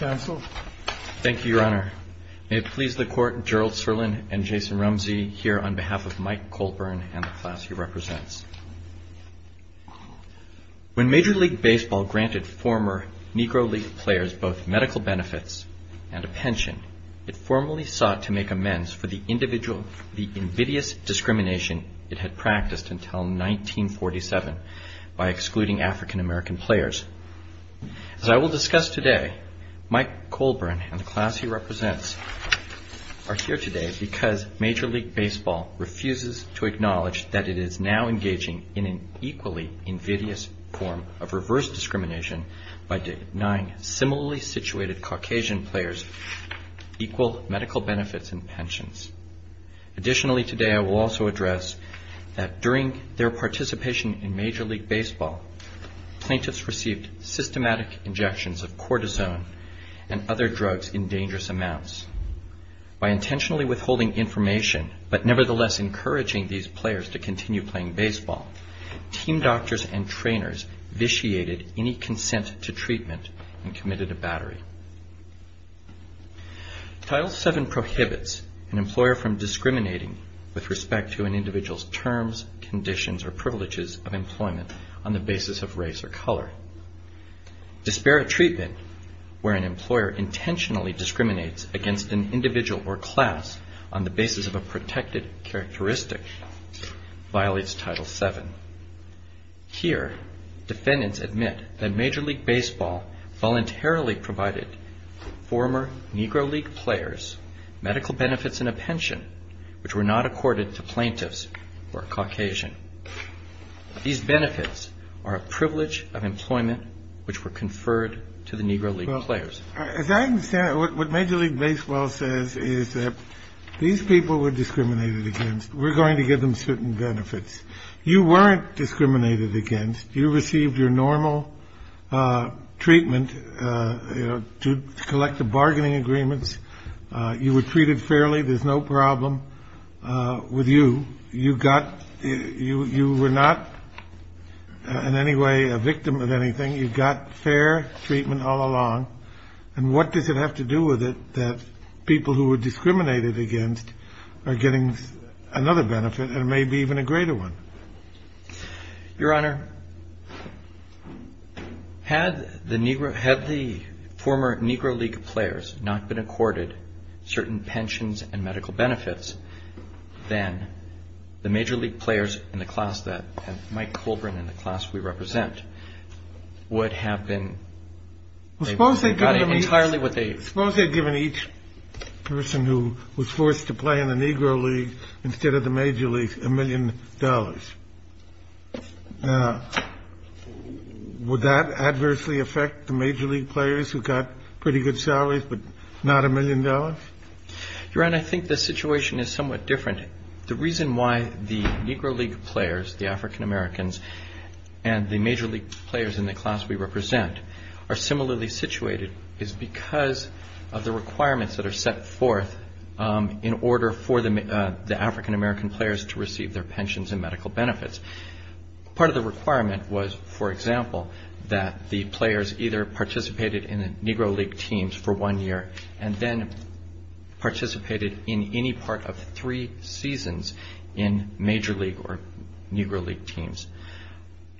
When Major League Baseball granted former Negro League players both medical benefits and a pension, it formally sought to make amends for the invidious discrimination it had practiced until 1947 by excluding African-American players. As I will discuss today, Mike Colbern and the class he represents are here today because Major League Baseball refuses to acknowledge that it is now engaging in an equally invidious form of reverse discrimination by denying similarly situated Caucasian players equal medical benefits and pensions. Additionally today I will also address that during their participation in Major League Baseball, plaintiffs received systematic injections of cortisone and other drugs in dangerous amounts. By intentionally withholding information but nevertheless encouraging these players to continue playing baseball, team doctors and trainers vitiated any consent to treatment and committed a battery. Title VII prohibits an employer from discriminating with respect to an individual's terms, conditions or privileges of employment on the basis of race or color. Disparate treatment, where an employer intentionally discriminates against an individual or class on the basis of a protected characteristic, violates Title VII. Here, defendants admit that Major League Baseball voluntarily provided former Negro League players medical benefits and a pension which were not accorded to plaintiffs or a Caucasian. These benefits are a privilege of employment which were conferred to the Negro League players. As I understand it, what Major League Baseball says is that these people were discriminated against. We're going to give them certain benefits. You weren't discriminated against. You received your normal treatment to collect the bargaining agreements. You were treated fairly. There's no problem with you. You were not in any way a victim of anything. You got fair treatment all along. And what does it have to do with it that people who were discriminated against are getting another benefit and maybe even a greater one? Your Honor, had the former Negro League players not been accorded certain pensions and medical benefits, then the Major League players in the class that Mike Colbrin and the class we represent would have been entirely what they… Suppose they had given each person who was forced to play in the Negro League instead of the Major League a million dollars. Would that adversely affect the Major League players who got pretty good salaries but not a million dollars? Your Honor, I think the situation is somewhat different. The reason why the Negro League players, the African Americans, and the Major League players in the class we represent are similarly situated is because of the requirements that are set forth in order for the African American players to receive their pensions and medical benefits. Part of the requirement was, for example, that the players either participated in the Negro League teams for one year and then participated in any part of three seasons in Major League or Negro League teams.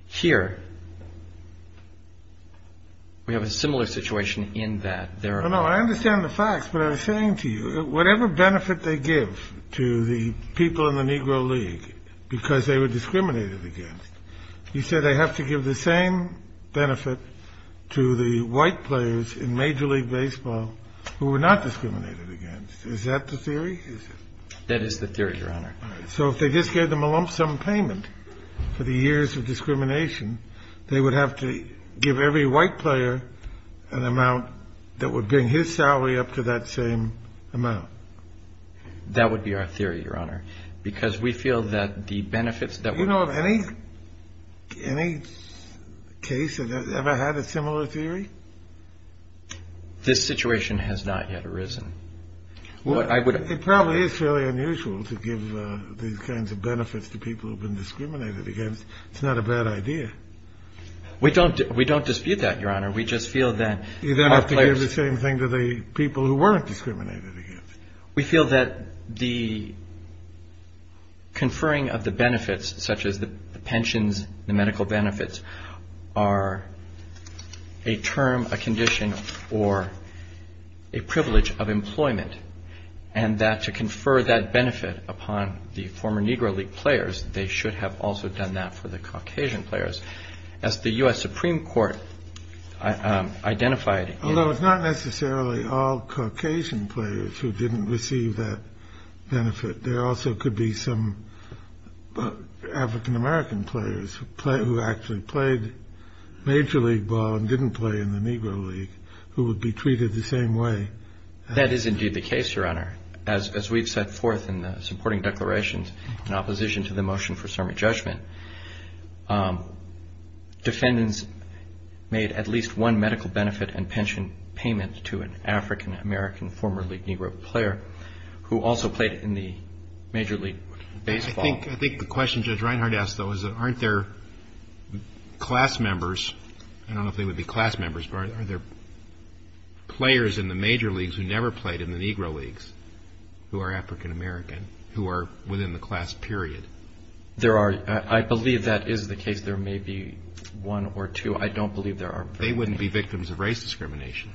Here, we have a similar situation in that there are… What benefit they give to the people in the Negro League because they were discriminated against? You said they have to give the same benefit to the white players in Major League baseball who were not discriminated against. Is that the theory? That is the theory, Your Honor. So if they just gave them a lump sum payment for the years of discrimination, they would have to give every white player an amount that would bring his salary up to that same amount? That would be our theory, Your Honor, because we feel that the benefits… Do you know of any case that has ever had a similar theory? This situation has not yet arisen. It probably is fairly unusual to give these kinds of benefits to people who have been discriminated against. It's not a bad idea. We don't dispute that, Your Honor. We just feel that our players… We give the same thing to the people who weren't discriminated against. We feel that the conferring of the benefits, such as the pensions, the medical benefits, are a term, a condition, or a privilege of employment, and that to confer that benefit upon the former Negro League players, they should have also done that for the Caucasian players. As the U.S. Supreme Court identified… Although it's not necessarily all Caucasian players who didn't receive that benefit. There also could be some African American players who actually played major league ball and didn't play in the Negro League who would be treated the same way. That is indeed the case, Your Honor. As we've set forth in the supporting declarations in opposition to the motion for sermon judgment, defendants made at least one medical benefit and pension payment to an African American former league Negro player who also played in the major league baseball. I think the question Judge Reinhart asked, though, is that aren't there class members… I don't know if they would be class members, but aren't there players in the major leagues who never played in the Negro Leagues who are African American, who are within the class period? There are. I believe that is the case. There may be one or two. I don't believe there are many. They wouldn't be victims of race discrimination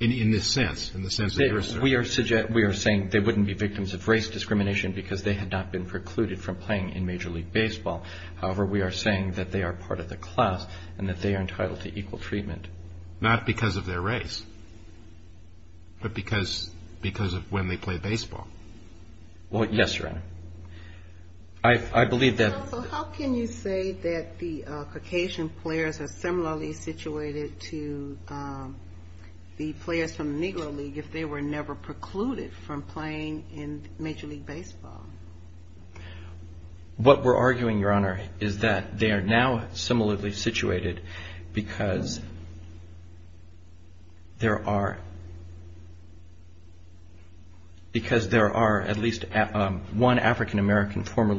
in this sense, in the sense that you're saying. We are saying they wouldn't be victims of race discrimination because they had not been precluded from playing in major league baseball. However, we are saying that they are part of the class and that they are entitled to equal treatment. Not because of their race, but because of when they played baseball. Well, yes, Your Honor. I believe that… How can you say that the Caucasian players are similarly situated to the players from the Negro League if they were never precluded from playing in major league baseball? What we're arguing, Your Honor, is that they are now similarly situated because there are at least one African American former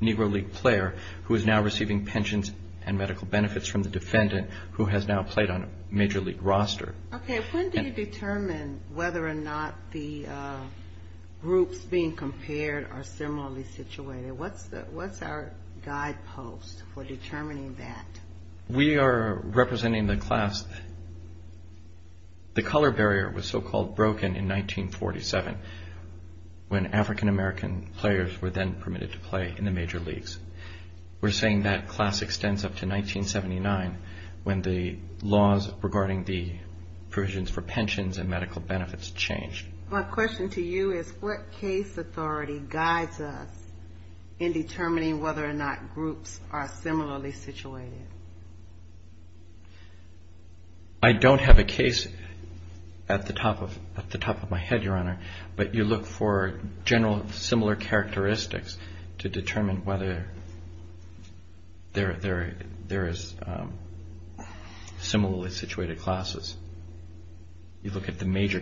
Negro League player who is now receiving pensions and medical benefits from the defendant who has now played on a major league roster. Okay. When do you determine whether or not the groups being compared are similarly situated? What's our guidepost for determining that? We are representing the class. The color barrier was so-called broken in 1947 when African American players were then permitted to play in the major leagues. We're saying that class extends up to 1979 when the laws regarding the provisions for pensions and medical benefits changed. My question to you is what case authority guides us in determining whether or not groups are similarly situated? I don't have a case at the top of my head, Your Honor, but you look for general similar characteristics to determine whether there is similarly situated classes. You look at the health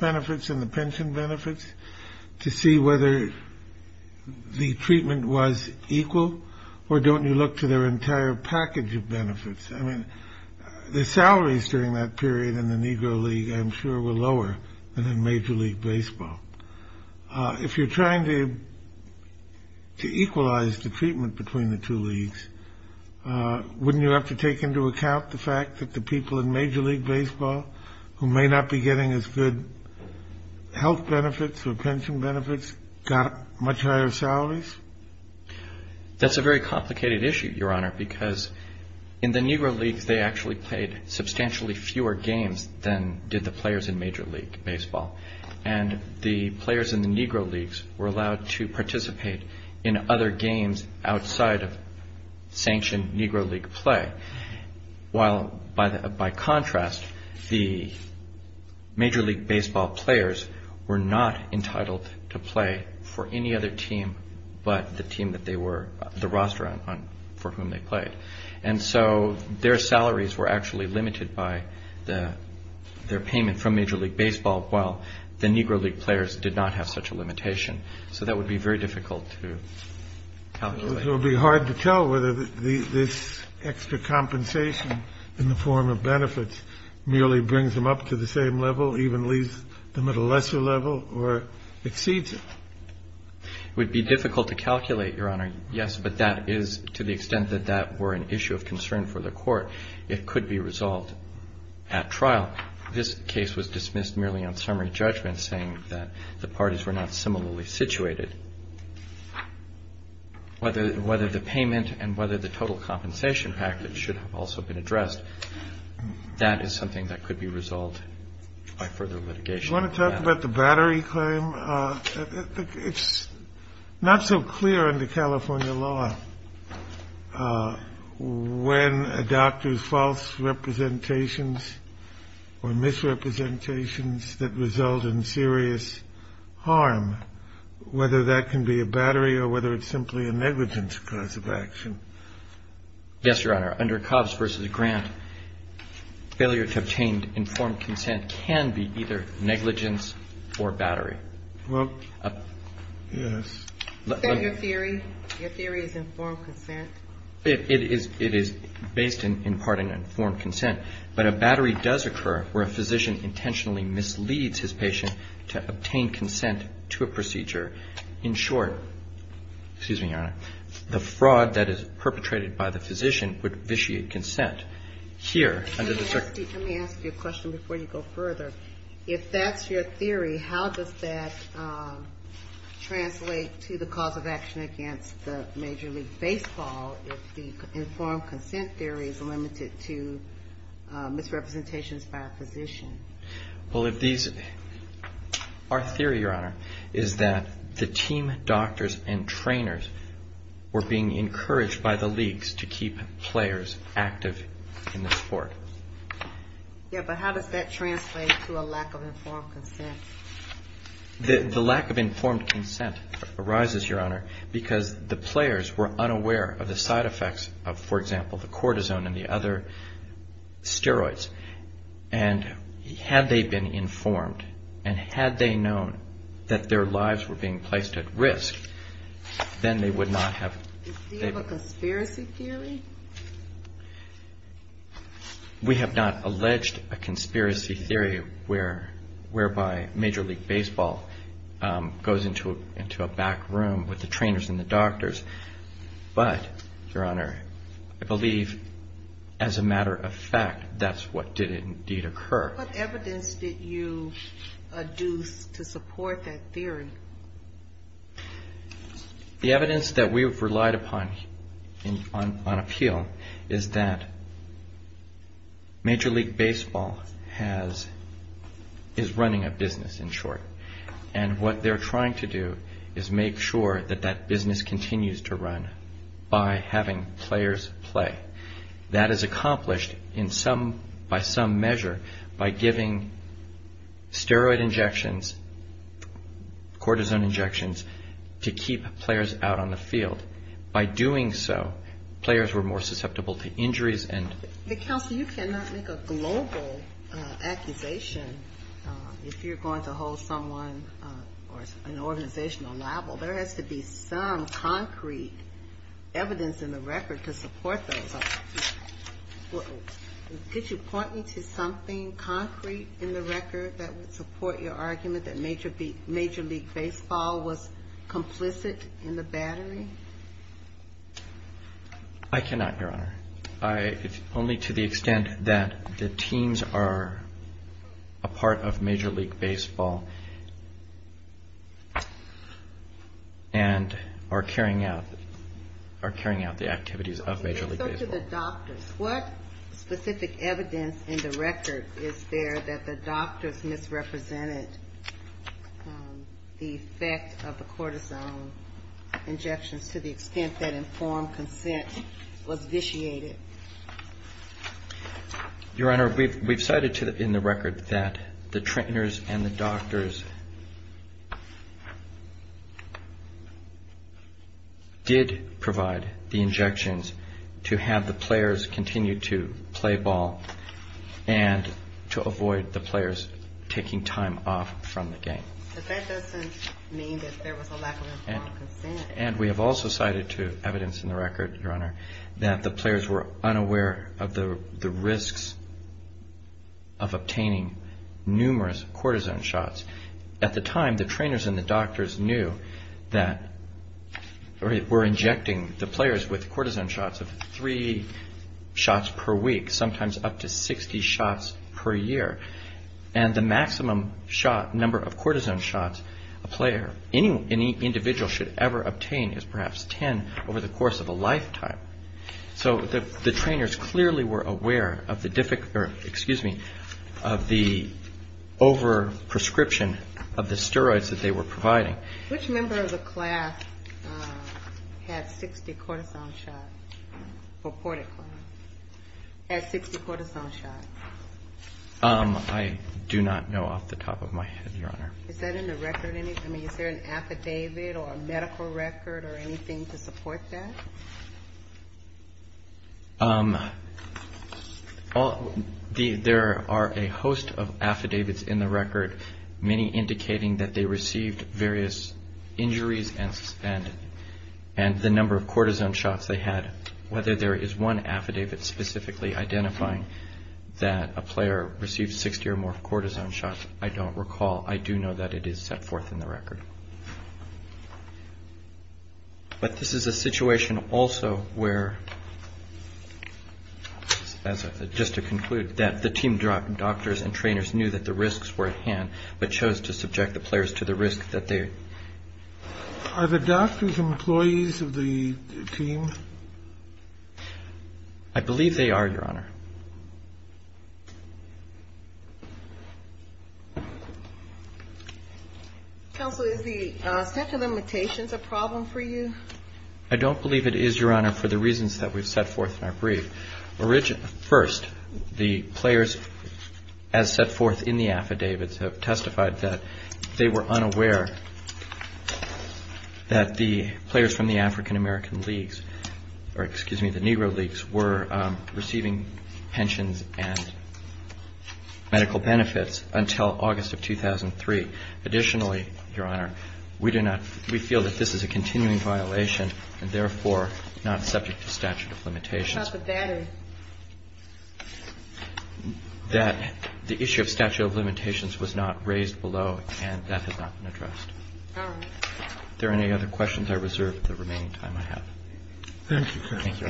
benefits and the pension benefits to see whether the treatment was equal or don't you look to their entire package of benefits. The salaries during that period in the Negro League, I'm sure, were lower than in major league baseball. If you're trying to equalize the treatment between the two leagues, wouldn't you have to take into account the fact that the people in major league baseball, who may not be getting as good health benefits or pension benefits, got much higher salaries? That's a very complicated issue, Your Honor, because in the Negro League they actually played substantially fewer games than did the players in major league baseball. And the players in the Negro Leagues were allowed to participate in other games outside of sanctioned Negro League play. While, by contrast, the major league baseball players were not entitled to play for any other team but the team that they were, the roster for whom they played. And so their salaries were actually limited by their payment from major league baseball while the Negro League players did not have such a limitation. So that would be very difficult to calculate. So it would be hard to tell whether this extra compensation in the form of benefits merely brings them up to the same level, even leaves them at a lesser level, or exceeds it? It would be difficult to calculate, Your Honor, yes, but that is to the extent that that were an issue of concern for the court. It could be resolved at trial. This case was dismissed merely on summary judgment, saying that the parties were not similarly situated. Whether the payment and whether the total compensation package should have also been addressed, that is something that could be resolved by further litigation. Do you want to talk about the battery claim? It's not so clear under California law when a doctor's false representations or misrepresentations that result in serious harm, whether that can be a battery or whether it's simply a negligence cause of action. Yes, Your Honor. Under Cobbs v. Grant, failure to obtain informed consent can be either negligence or battery. Well, yes. Is that your theory? Your theory is informed consent? It is based in imparting informed consent. But a battery does occur where a physician intentionally misleads his patient to obtain consent to a procedure. In short, excuse me, Your Honor, the fraud that is perpetrated by the physician would vitiate consent. Here, under the circumstances Let me ask you a question before you go further. If that's your theory, how does that translate to the cause of action against the Major League Baseball if the informed consent theory is limited to misrepresentations by a physician? Our theory, Your Honor, is that the team doctors and trainers were being encouraged by the leagues to keep players active in the sport. Yes, but how does that translate to a lack of informed consent? The lack of informed consent arises, Your Honor, because the players were unaware of the side effects of, for example, the cortisone and the other steroids. And had they been informed and had they known that their lives were being placed at risk, then they would not have... Do you have a conspiracy theory? We have not alleged a conspiracy theory whereby Major League Baseball goes into a back room with the trainers and the doctors. But, Your Honor, I believe as a matter of fact, that's what did indeed occur. What evidence did you adduce to support that theory? The evidence that we've relied upon on appeal is that Major League Baseball is running a business, in short. And what they're trying to do is make sure that that business continues to run by having players play. That is accomplished by some measure by giving steroid injections and cortisone injections to keep players out on the field. By doing so, players were more susceptible to injuries and... But, Counsel, you cannot make a global accusation if you're going to hold someone or an organization liable. There has to be some concrete evidence in the record to support those arguments. Did you point me to something concrete in the record that would support your argument that Major League Baseball was complicit in the battery? I cannot, Your Honor. Only to the extent that the teams are a part of Major League Baseball and are carrying out the activities of Major League Baseball. So to the doctors, what specific evidence in the record is there that the doctors misrepresented the effect of the cortisone injections to the extent that informed consent was vitiated? Your Honor, we've cited in the record that the trainers and the doctors did provide the injections to have the players continue to play ball and to avoid the players taking time off from the game. But that doesn't mean that there was a lack of informed consent. And we have also cited to evidence in the record, Your Honor, that the players were unaware of the risks of obtaining numerous cortisone shots. At the time, the trainers and the doctors knew that we're injecting the players with cortisone shots of three shots per week, sometimes up to 60 shots per year. And the maximum number of cortisone shots a player, any individual should ever obtain is perhaps 10 over the course of a lifetime. So the trainers clearly were aware of the over-prescription of the steroids that they were providing. Which member of the class had 60 cortisone shots, reported class, had 60 cortisone shots? I do not know off the top of my head, Your Honor. Is that in the record? I mean, is there an affidavit or a medical record or anything to support that? There are a host of affidavits in the record, many indicating that they received various injuries and the number of cortisone shots they had. Whether there is one affidavit specifically identifying that a player received 60 or more cortisone shots, I don't recall. I do know that it is set forth in the record. But this is a situation also where, just to conclude, that the team doctors and trainers knew that the risks were at hand, but chose to subject the players to the risk that they are. Are the doctors employees of the team? I believe they are, Your Honor. Counsel, is the set of limitations a problem for you? I don't believe it is, Your Honor, for the reasons that we've set forth in our brief. First, the players, as set forth in the affidavits, have testified that they were unaware that the players from the African-American leagues, or excuse me, the Negro leagues, were receiving pensions and medical benefits until August of 2003. Additionally, Your Honor, we do not we feel that this is a continuing violation and therefore not subject to statute of limitations. That the issue of statute of limitations was not raised below and that has not been addressed. All right. Are there any other questions I reserve the remaining time I have? Thank you, counsel. Thank you.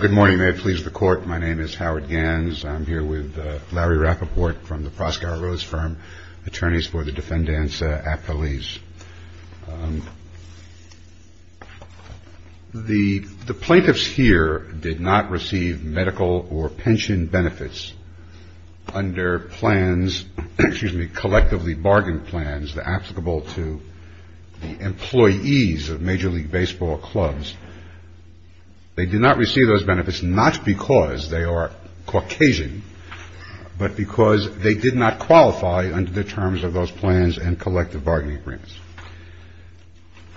Good morning. May it please the Court. My name is Howard Ganz. I'm here with Larry Rappaport from the Proscow Roads firm, attorneys for the Defendants' Affilies. The plaintiffs here did not receive medical or pension benefits under plans, excuse me, collectively bargained plans applicable to the employees of Major League Baseball clubs. They did not receive those benefits not because they are Caucasian, but because they did not qualify under the terms of those plans and collective bargaining agreements.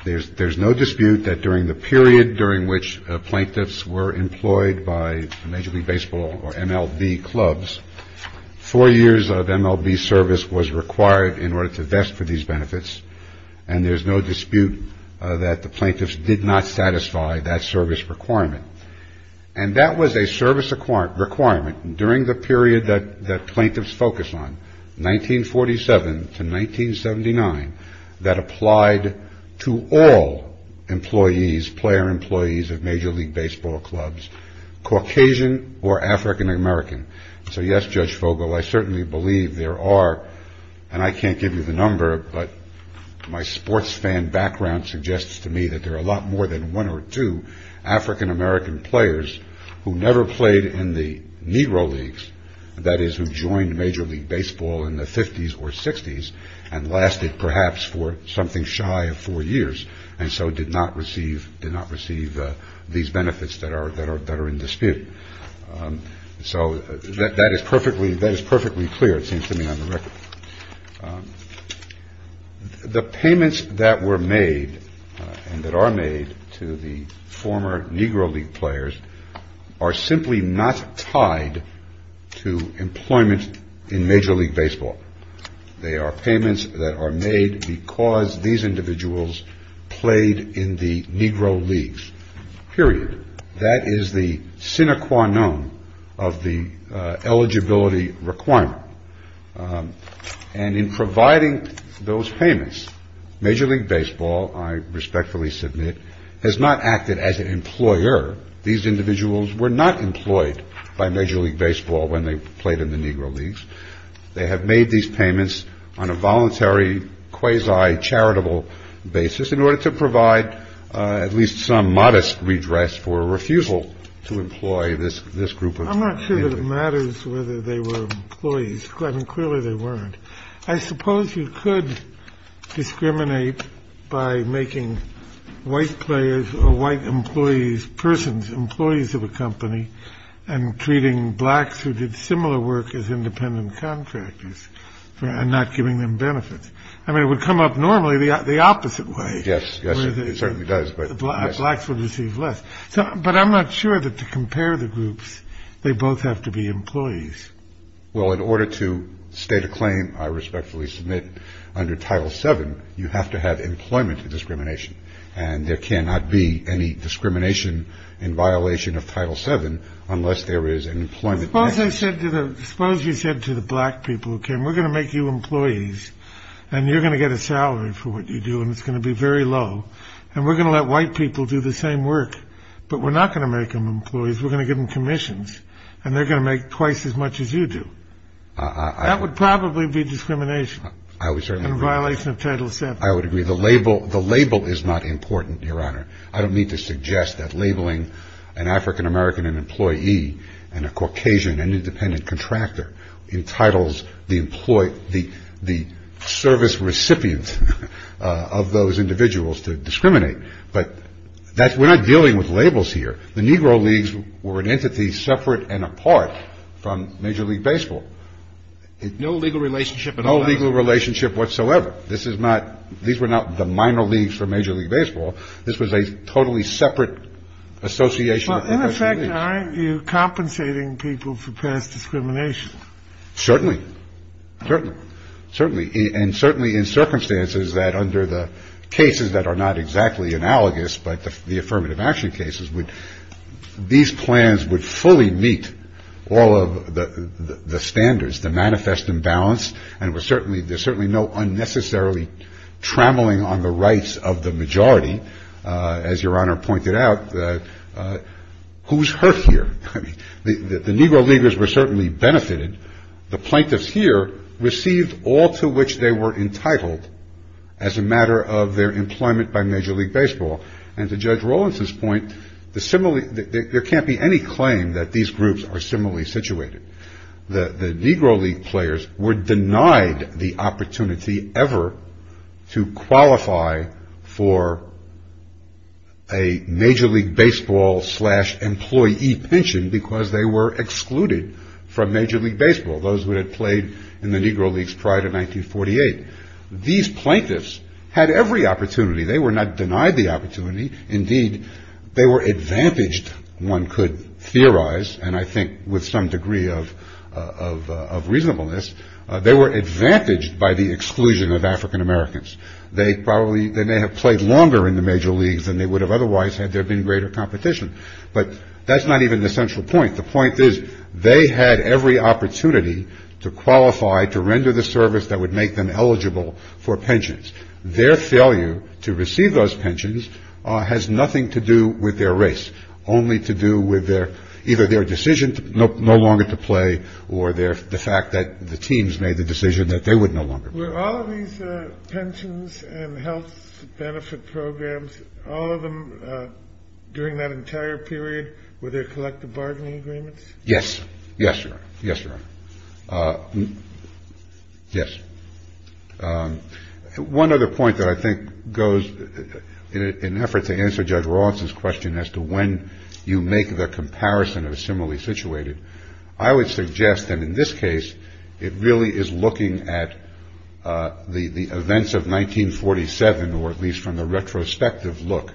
There's no dispute that during the period during which plaintiffs were employed by Major League Baseball or MLB clubs, four years of MLB service was required in order to vest for these benefits, and there's no And that was a service requirement during the period that the plaintiffs focused on, 1947 to 1979, that applied to all employees, player employees of Major League Baseball clubs, Caucasian or African American. So yes, Judge Vogel, I certainly believe there are, and I can't give you the number, but my sports fan background suggests to me that there are a lot more than one or two African American players who never played in the Negro Leagues, that is, who joined Major League Baseball in the 50s or 60s, and lasted perhaps for something shy of four years, and so did not receive these benefits that are in dispute. So that is perfectly clear, it seems to me, on the record. The payments that were made and that are made to the former Negro League players are simply not tied to employment in Major League Baseball. They are payments that are made because these individuals played in the Negro Leagues, period. That is the sine qua non of the eligibility requirement. And in providing those payments, Major League Baseball, I respectfully submit, has not acted as an employer. These individuals were not employed by Major League Baseball when they played in the Negro Leagues. They have made these payments on a voluntary, quasi-charitable basis in order to provide at least some modest redress for a refusal to employ this group I'm not sure that it matters whether they were employees. Clearly they weren't. I suppose you could discriminate by making white players or white employees, persons, employees of a company, and treating blacks who did similar work as independent contractors, and not giving them benefits. I mean it would come up normally the opposite way. Yes, yes, it certainly does. Blacks would receive less. But I'm not sure that to compare the groups, they both have to be employees. Well, in order to state a claim I respectfully submit, under Title VII, you have to have employment discrimination. And there cannot be any discrimination in violation of Title VII unless there is an employment benefit. Suppose you said to the black people who came, we're going to make you employees, and you're going to get a salary for what you do, and it's going to be very low, and we're going to let white people do the same work, but we're not going to make them employees, we're going to give them commissions, and they're going to make twice as much as you do. That would probably be discrimination in violation of Title VII. I would agree. The label is not important, Your Honor. I don't mean to suggest that labeling an African-American an employee and a Caucasian an independent contractor entitles the service recipient of those individuals to discriminate. But we're not dealing with labels here. The Negro Leagues were an entity separate and apart from Major League Baseball. No legal relationship at all. No legal relationship whatsoever. These were not the minor leagues for Major League Baseball. This was a totally separate association. Well, in effect, Your Honor, you're compensating people for past discrimination. Certainly. Certainly. Certainly. And certainly in circumstances that under the cases that are not exactly analogous, but the affirmative action cases, these plans would fully meet all of the standards, the manifest imbalance, and there's certainly no unnecessarily trammeling on the rights of the majority, as Your Honor pointed out. Who's hurt here? I mean, the Negro Leaguers were certainly benefited. The plaintiffs here received all to which they were entitled as a matter of their employment by Major League Baseball. And to Judge Rowlands's point, there can't be any claim that these groups are similarly situated. The Negro League players were denied the opportunity ever to qualify for a Major League Baseball slash employee pension because they were excluded from Major League Baseball, those who had played in the Negro Leagues prior to 1948. These plaintiffs had every opportunity. They were not denied the opportunity. Indeed, they were advantaged, one could theorize, and I think with some degree of reasonableness, they were advantaged by the exclusion of African Americans. They probably, they may have played longer in the Major Leagues than they would have otherwise had there been greater competition. But that's not even the central point. The point is they had every opportunity to qualify, to render the service that would make them eligible for pensions. Their failure to receive those pensions has nothing to do with their race, only to do with either their decision no longer to play or the fact that the teams made the decision that they would no longer play. Yes. Yes, Your Honor. Yes. One other point that I think goes, in an effort to answer Judge Rawson's question as to when you make the comparison of similarly situated, I would 1947, or at least from the retrospective look,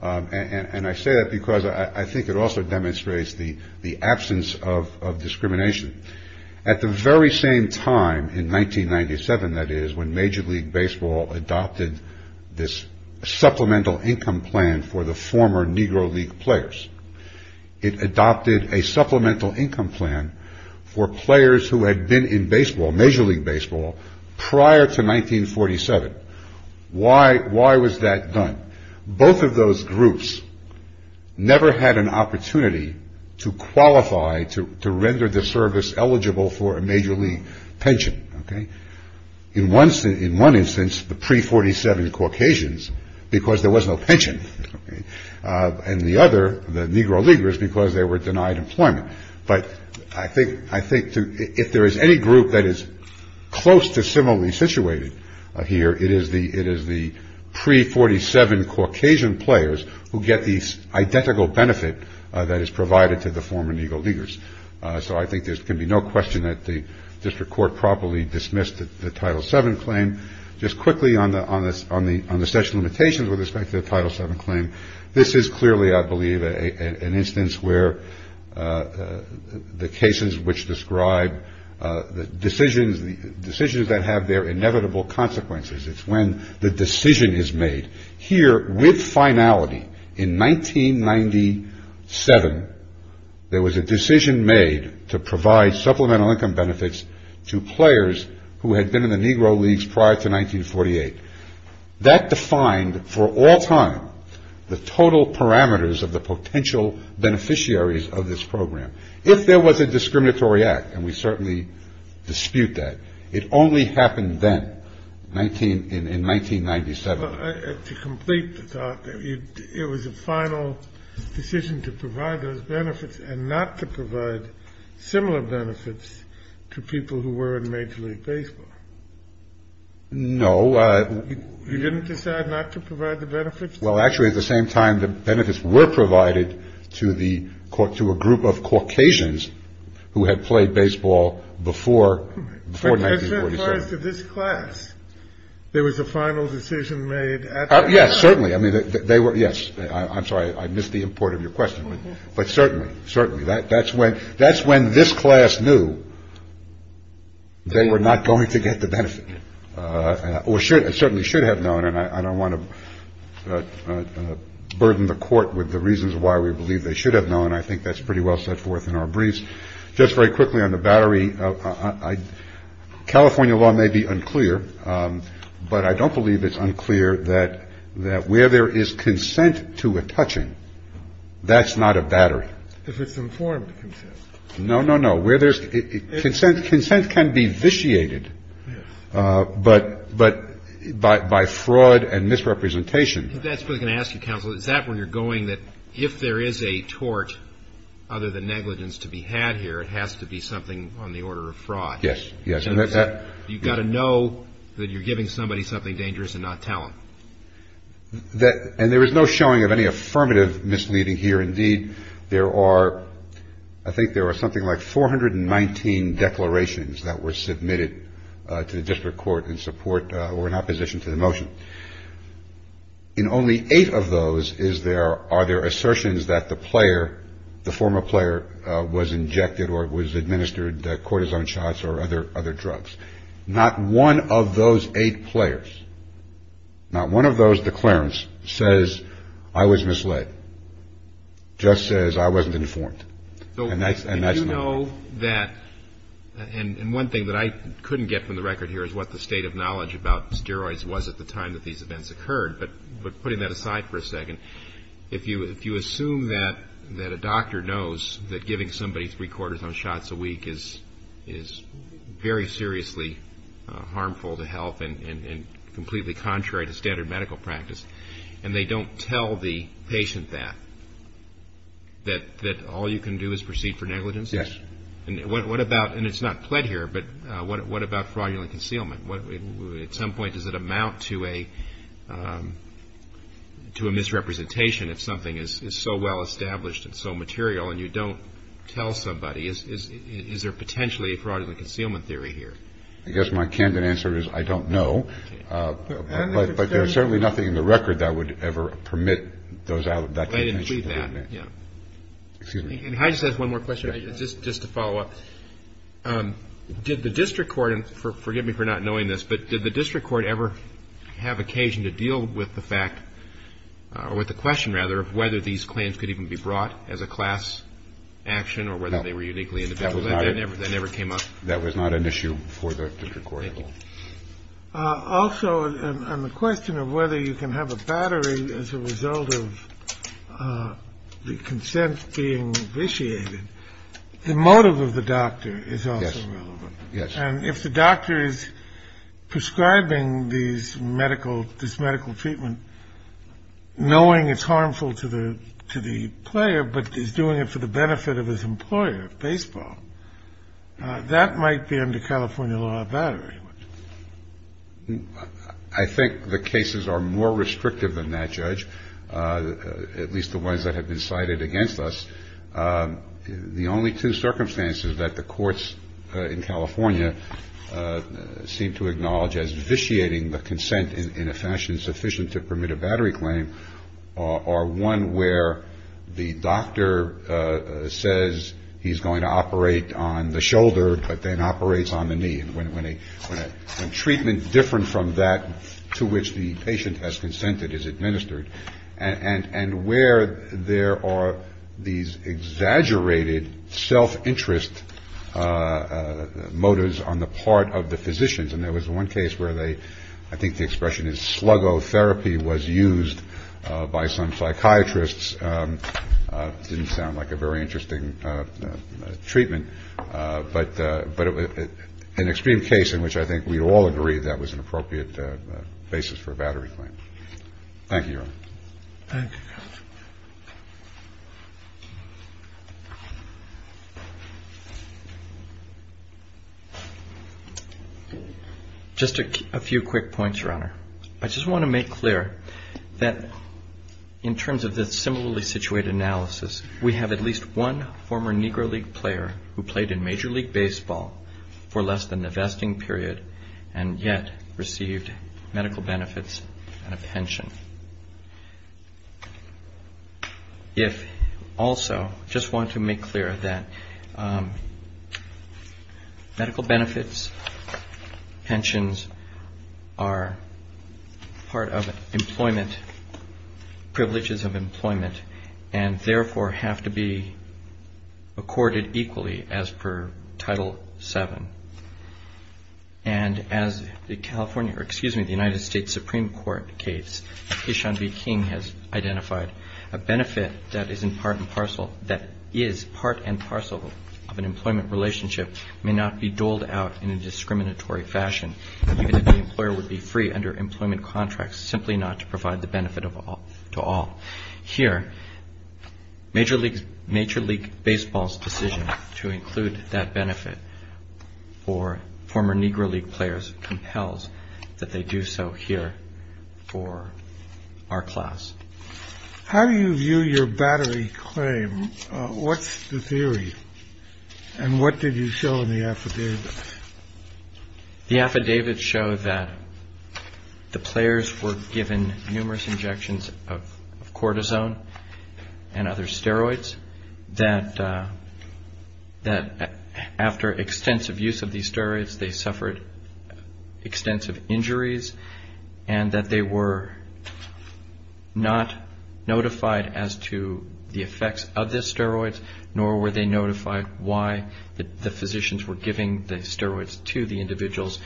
and I say that because I think it also demonstrates the absence of discrimination. At the very same time in 1997, that is, when Major League Baseball adopted this supplemental income plan for the former Negro League players. It adopted a supplemental income plan for players who had been in baseball, Major League Baseball prior to 1947. Why? Why was that done? Both of those groups never had an opportunity to qualify, to render the service eligible for a Major League pension. In one instance, in one instance, the pre-47 Caucasians, because there was no pension. And the other, the Negro Leaguers, because they were denied employment. But I think if there is any group that is close to similarly situated here, it is the pre-47 Caucasian players who get the identical benefit that is provided to the former Negro Leaguers. So I think there can be no question that the district court properly dismissed the Title VII claim. Just quickly on the statute of limitations with respect to the Title VII claim, this is clearly, I believe, an instance where the cases which describe the decisions that have their inevitable consequences. It's when the decision is made. Here, with finality, in 1997, there was a decision made to provide supplemental income benefits to players who potential beneficiaries of this program. If there was a discriminatory act, and we certainly dispute that, it only happened then, in 1997. To complete the thought, it was a final decision to provide those benefits and not to provide similar benefits to people who were in Major League Baseball? No. You didn't decide not to provide the benefits? Well, actually, at the same time, the benefits were provided to a group of Caucasians who had played baseball before 1947. But that applies to this class. There was a final decision made at the time. Yes, certainly. I mean, they were, yes. I'm sorry. I missed the import of your question. But certainly, certainly. That's when this class knew they were not going to get the burden of the court with the reasons why we believe they should have known. I think that's pretty well set forth in our briefs. Just very quickly on the battery, California law may be unclear, but I don't believe it's unclear that where there is consent to a touching, that's not a battery. If it's informed consent. No, no, no. Where there's consent, consent can be vitiated, but by fraud and misrepresentation. That's what I'm going to ask you, counsel. Is that where you're going, that if there is a tort, other than negligence, to be had here, it has to be something on the order of fraud? Yes, yes. You've got to know that you're giving somebody something dangerous and not tell them. And there is no showing of any affirmative misleading here. Indeed, there are, I think there are something like 419 declarations that were submitted to the district court in support or in opposition to the motion. In only eight of those is there, are there assertions that the player, the former player, was injected or was administered cortisone shots or other drugs. Not one of those eight players, not one of those declarants says I was misled. Just says I wasn't informed. And that's not. And you know that, and one thing that I couldn't get from the record here is what the state of knowledge about steroids was at the time that these events occurred. But putting that aside for a second, if you assume that a doctor knows that giving somebody three-quarters on shots a week is very seriously harmful to health and completely contrary to standard medical practice, and they don't tell the patient that, that all you can do is proceed for negligence? Yes. And what about, and it's not pled here, but what about fraudulent concealment? At some point does it amount to a, to a misrepresentation if something is so well established and so material and you don't tell somebody? Is there potentially a fraudulent concealment theory here? I guess my candid answer is I don't know. But there's certainly nothing in the record that would ever permit those, that convention to be made. Yeah. Excuse me. I just have one more question, just to follow up. Did the district court, and forgive me for not knowing this, but did the district court ever have occasion to deal with the fact, or with the question rather, of whether these claims could even be brought as a class action or whether they were uniquely individual? That never came up. That was not an issue for the district court at all. Also, on the question of whether you can have a battery as a result of the consent being vitiated, the motive of the doctor is also relevant. Yes. And if the doctor is prescribing these medical, this medical treatment, knowing it's harmful to the, to the player, but is doing it for the benefit of his employer, baseball, that might be under California law, a battery. I think the cases are more restrictive than that, Judge, at least the ones that have been cited against us. The only two circumstances that the courts in California seem to acknowledge as vitiating the consent in a fashion sufficient to permit a battery claim are one where the doctor says he's going to operate on the shoulder, but then operates on the knee when a treatment different from that to which the patient has consented is administered. And where there are these exaggerated self-interest motives on the part of the physicians. And there was one case where they, I think the expression is sluggo therapy was used by some psychiatrists didn't sound like a very interesting treatment, but, but it was an extreme case in which I think we'd all agree that was an appropriate basis for battery claim. Thank you, Your Honor. Just a few quick points, Your Honor. I just want to make clear that in terms of this similarly situated analysis, we have at least one former Negro League player who played in Major League Baseball for less than the vesting period and yet received medical benefits and a pension. If also just want to make clear that medical benefits, pensions are part of employment, privileges of employment, and therefore have to be accorded equally as per Title VII. And as the California, or excuse me, the United States Supreme Court case, Ishan B. King has identified a benefit that is in part and parcel, that is part and parcel of an employment relationship may not be doled out in a discriminatory fashion, even if the employer would be free under employment contracts, simply not to provide the benefit to all. Here, Major League Baseball's decision to include that benefit for former Negro League players compels that they do so here for our class. How do you view your battery claim? What's the theory? And what did you show in the affidavit? The affidavits show that the players were given numerous injections of cortisone and other steroids, that after extensive use of these steroids, they suffered extensive injuries, and that they were not notified as to the effects of the steroids, nor were they notified why the physicians were giving the steroids to the individuals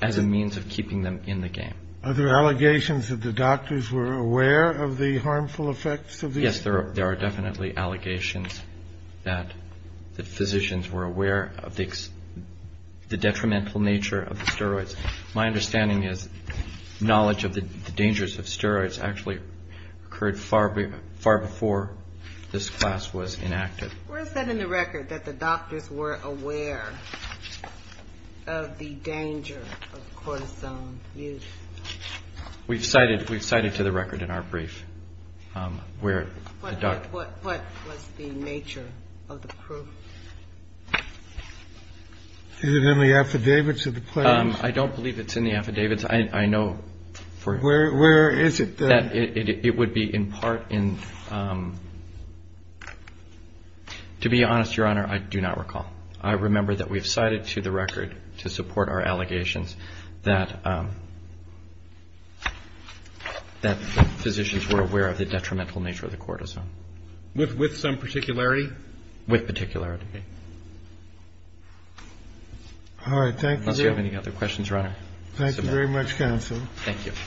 as a means of keeping them in the game. Are there allegations that the doctors were aware of the harmful effects of these? Yes, there are definitely allegations that the physicians were aware of the detrimental nature of the steroids. My understanding is knowledge of the dangers of steroids actually occurred far before this class was enacted. Where is that in the record, that the doctors were aware of the danger of cortisone use? We've cited to the record in our brief where the doctors... What was the nature of the proof? Is it in the affidavits of the players? I don't believe it's in the affidavits. I know for... Where is it? It would be in part in... To be honest, Your Honor, I do not recall. I remember that we've cited to the record to support our allegations that the physicians were aware of the detrimental nature of the cortisone. With some particularity? With particularity. All right. Thank you, Jim. Unless you have any other questions, Your Honor, submit them. Thank you very much, counsel. Thank you.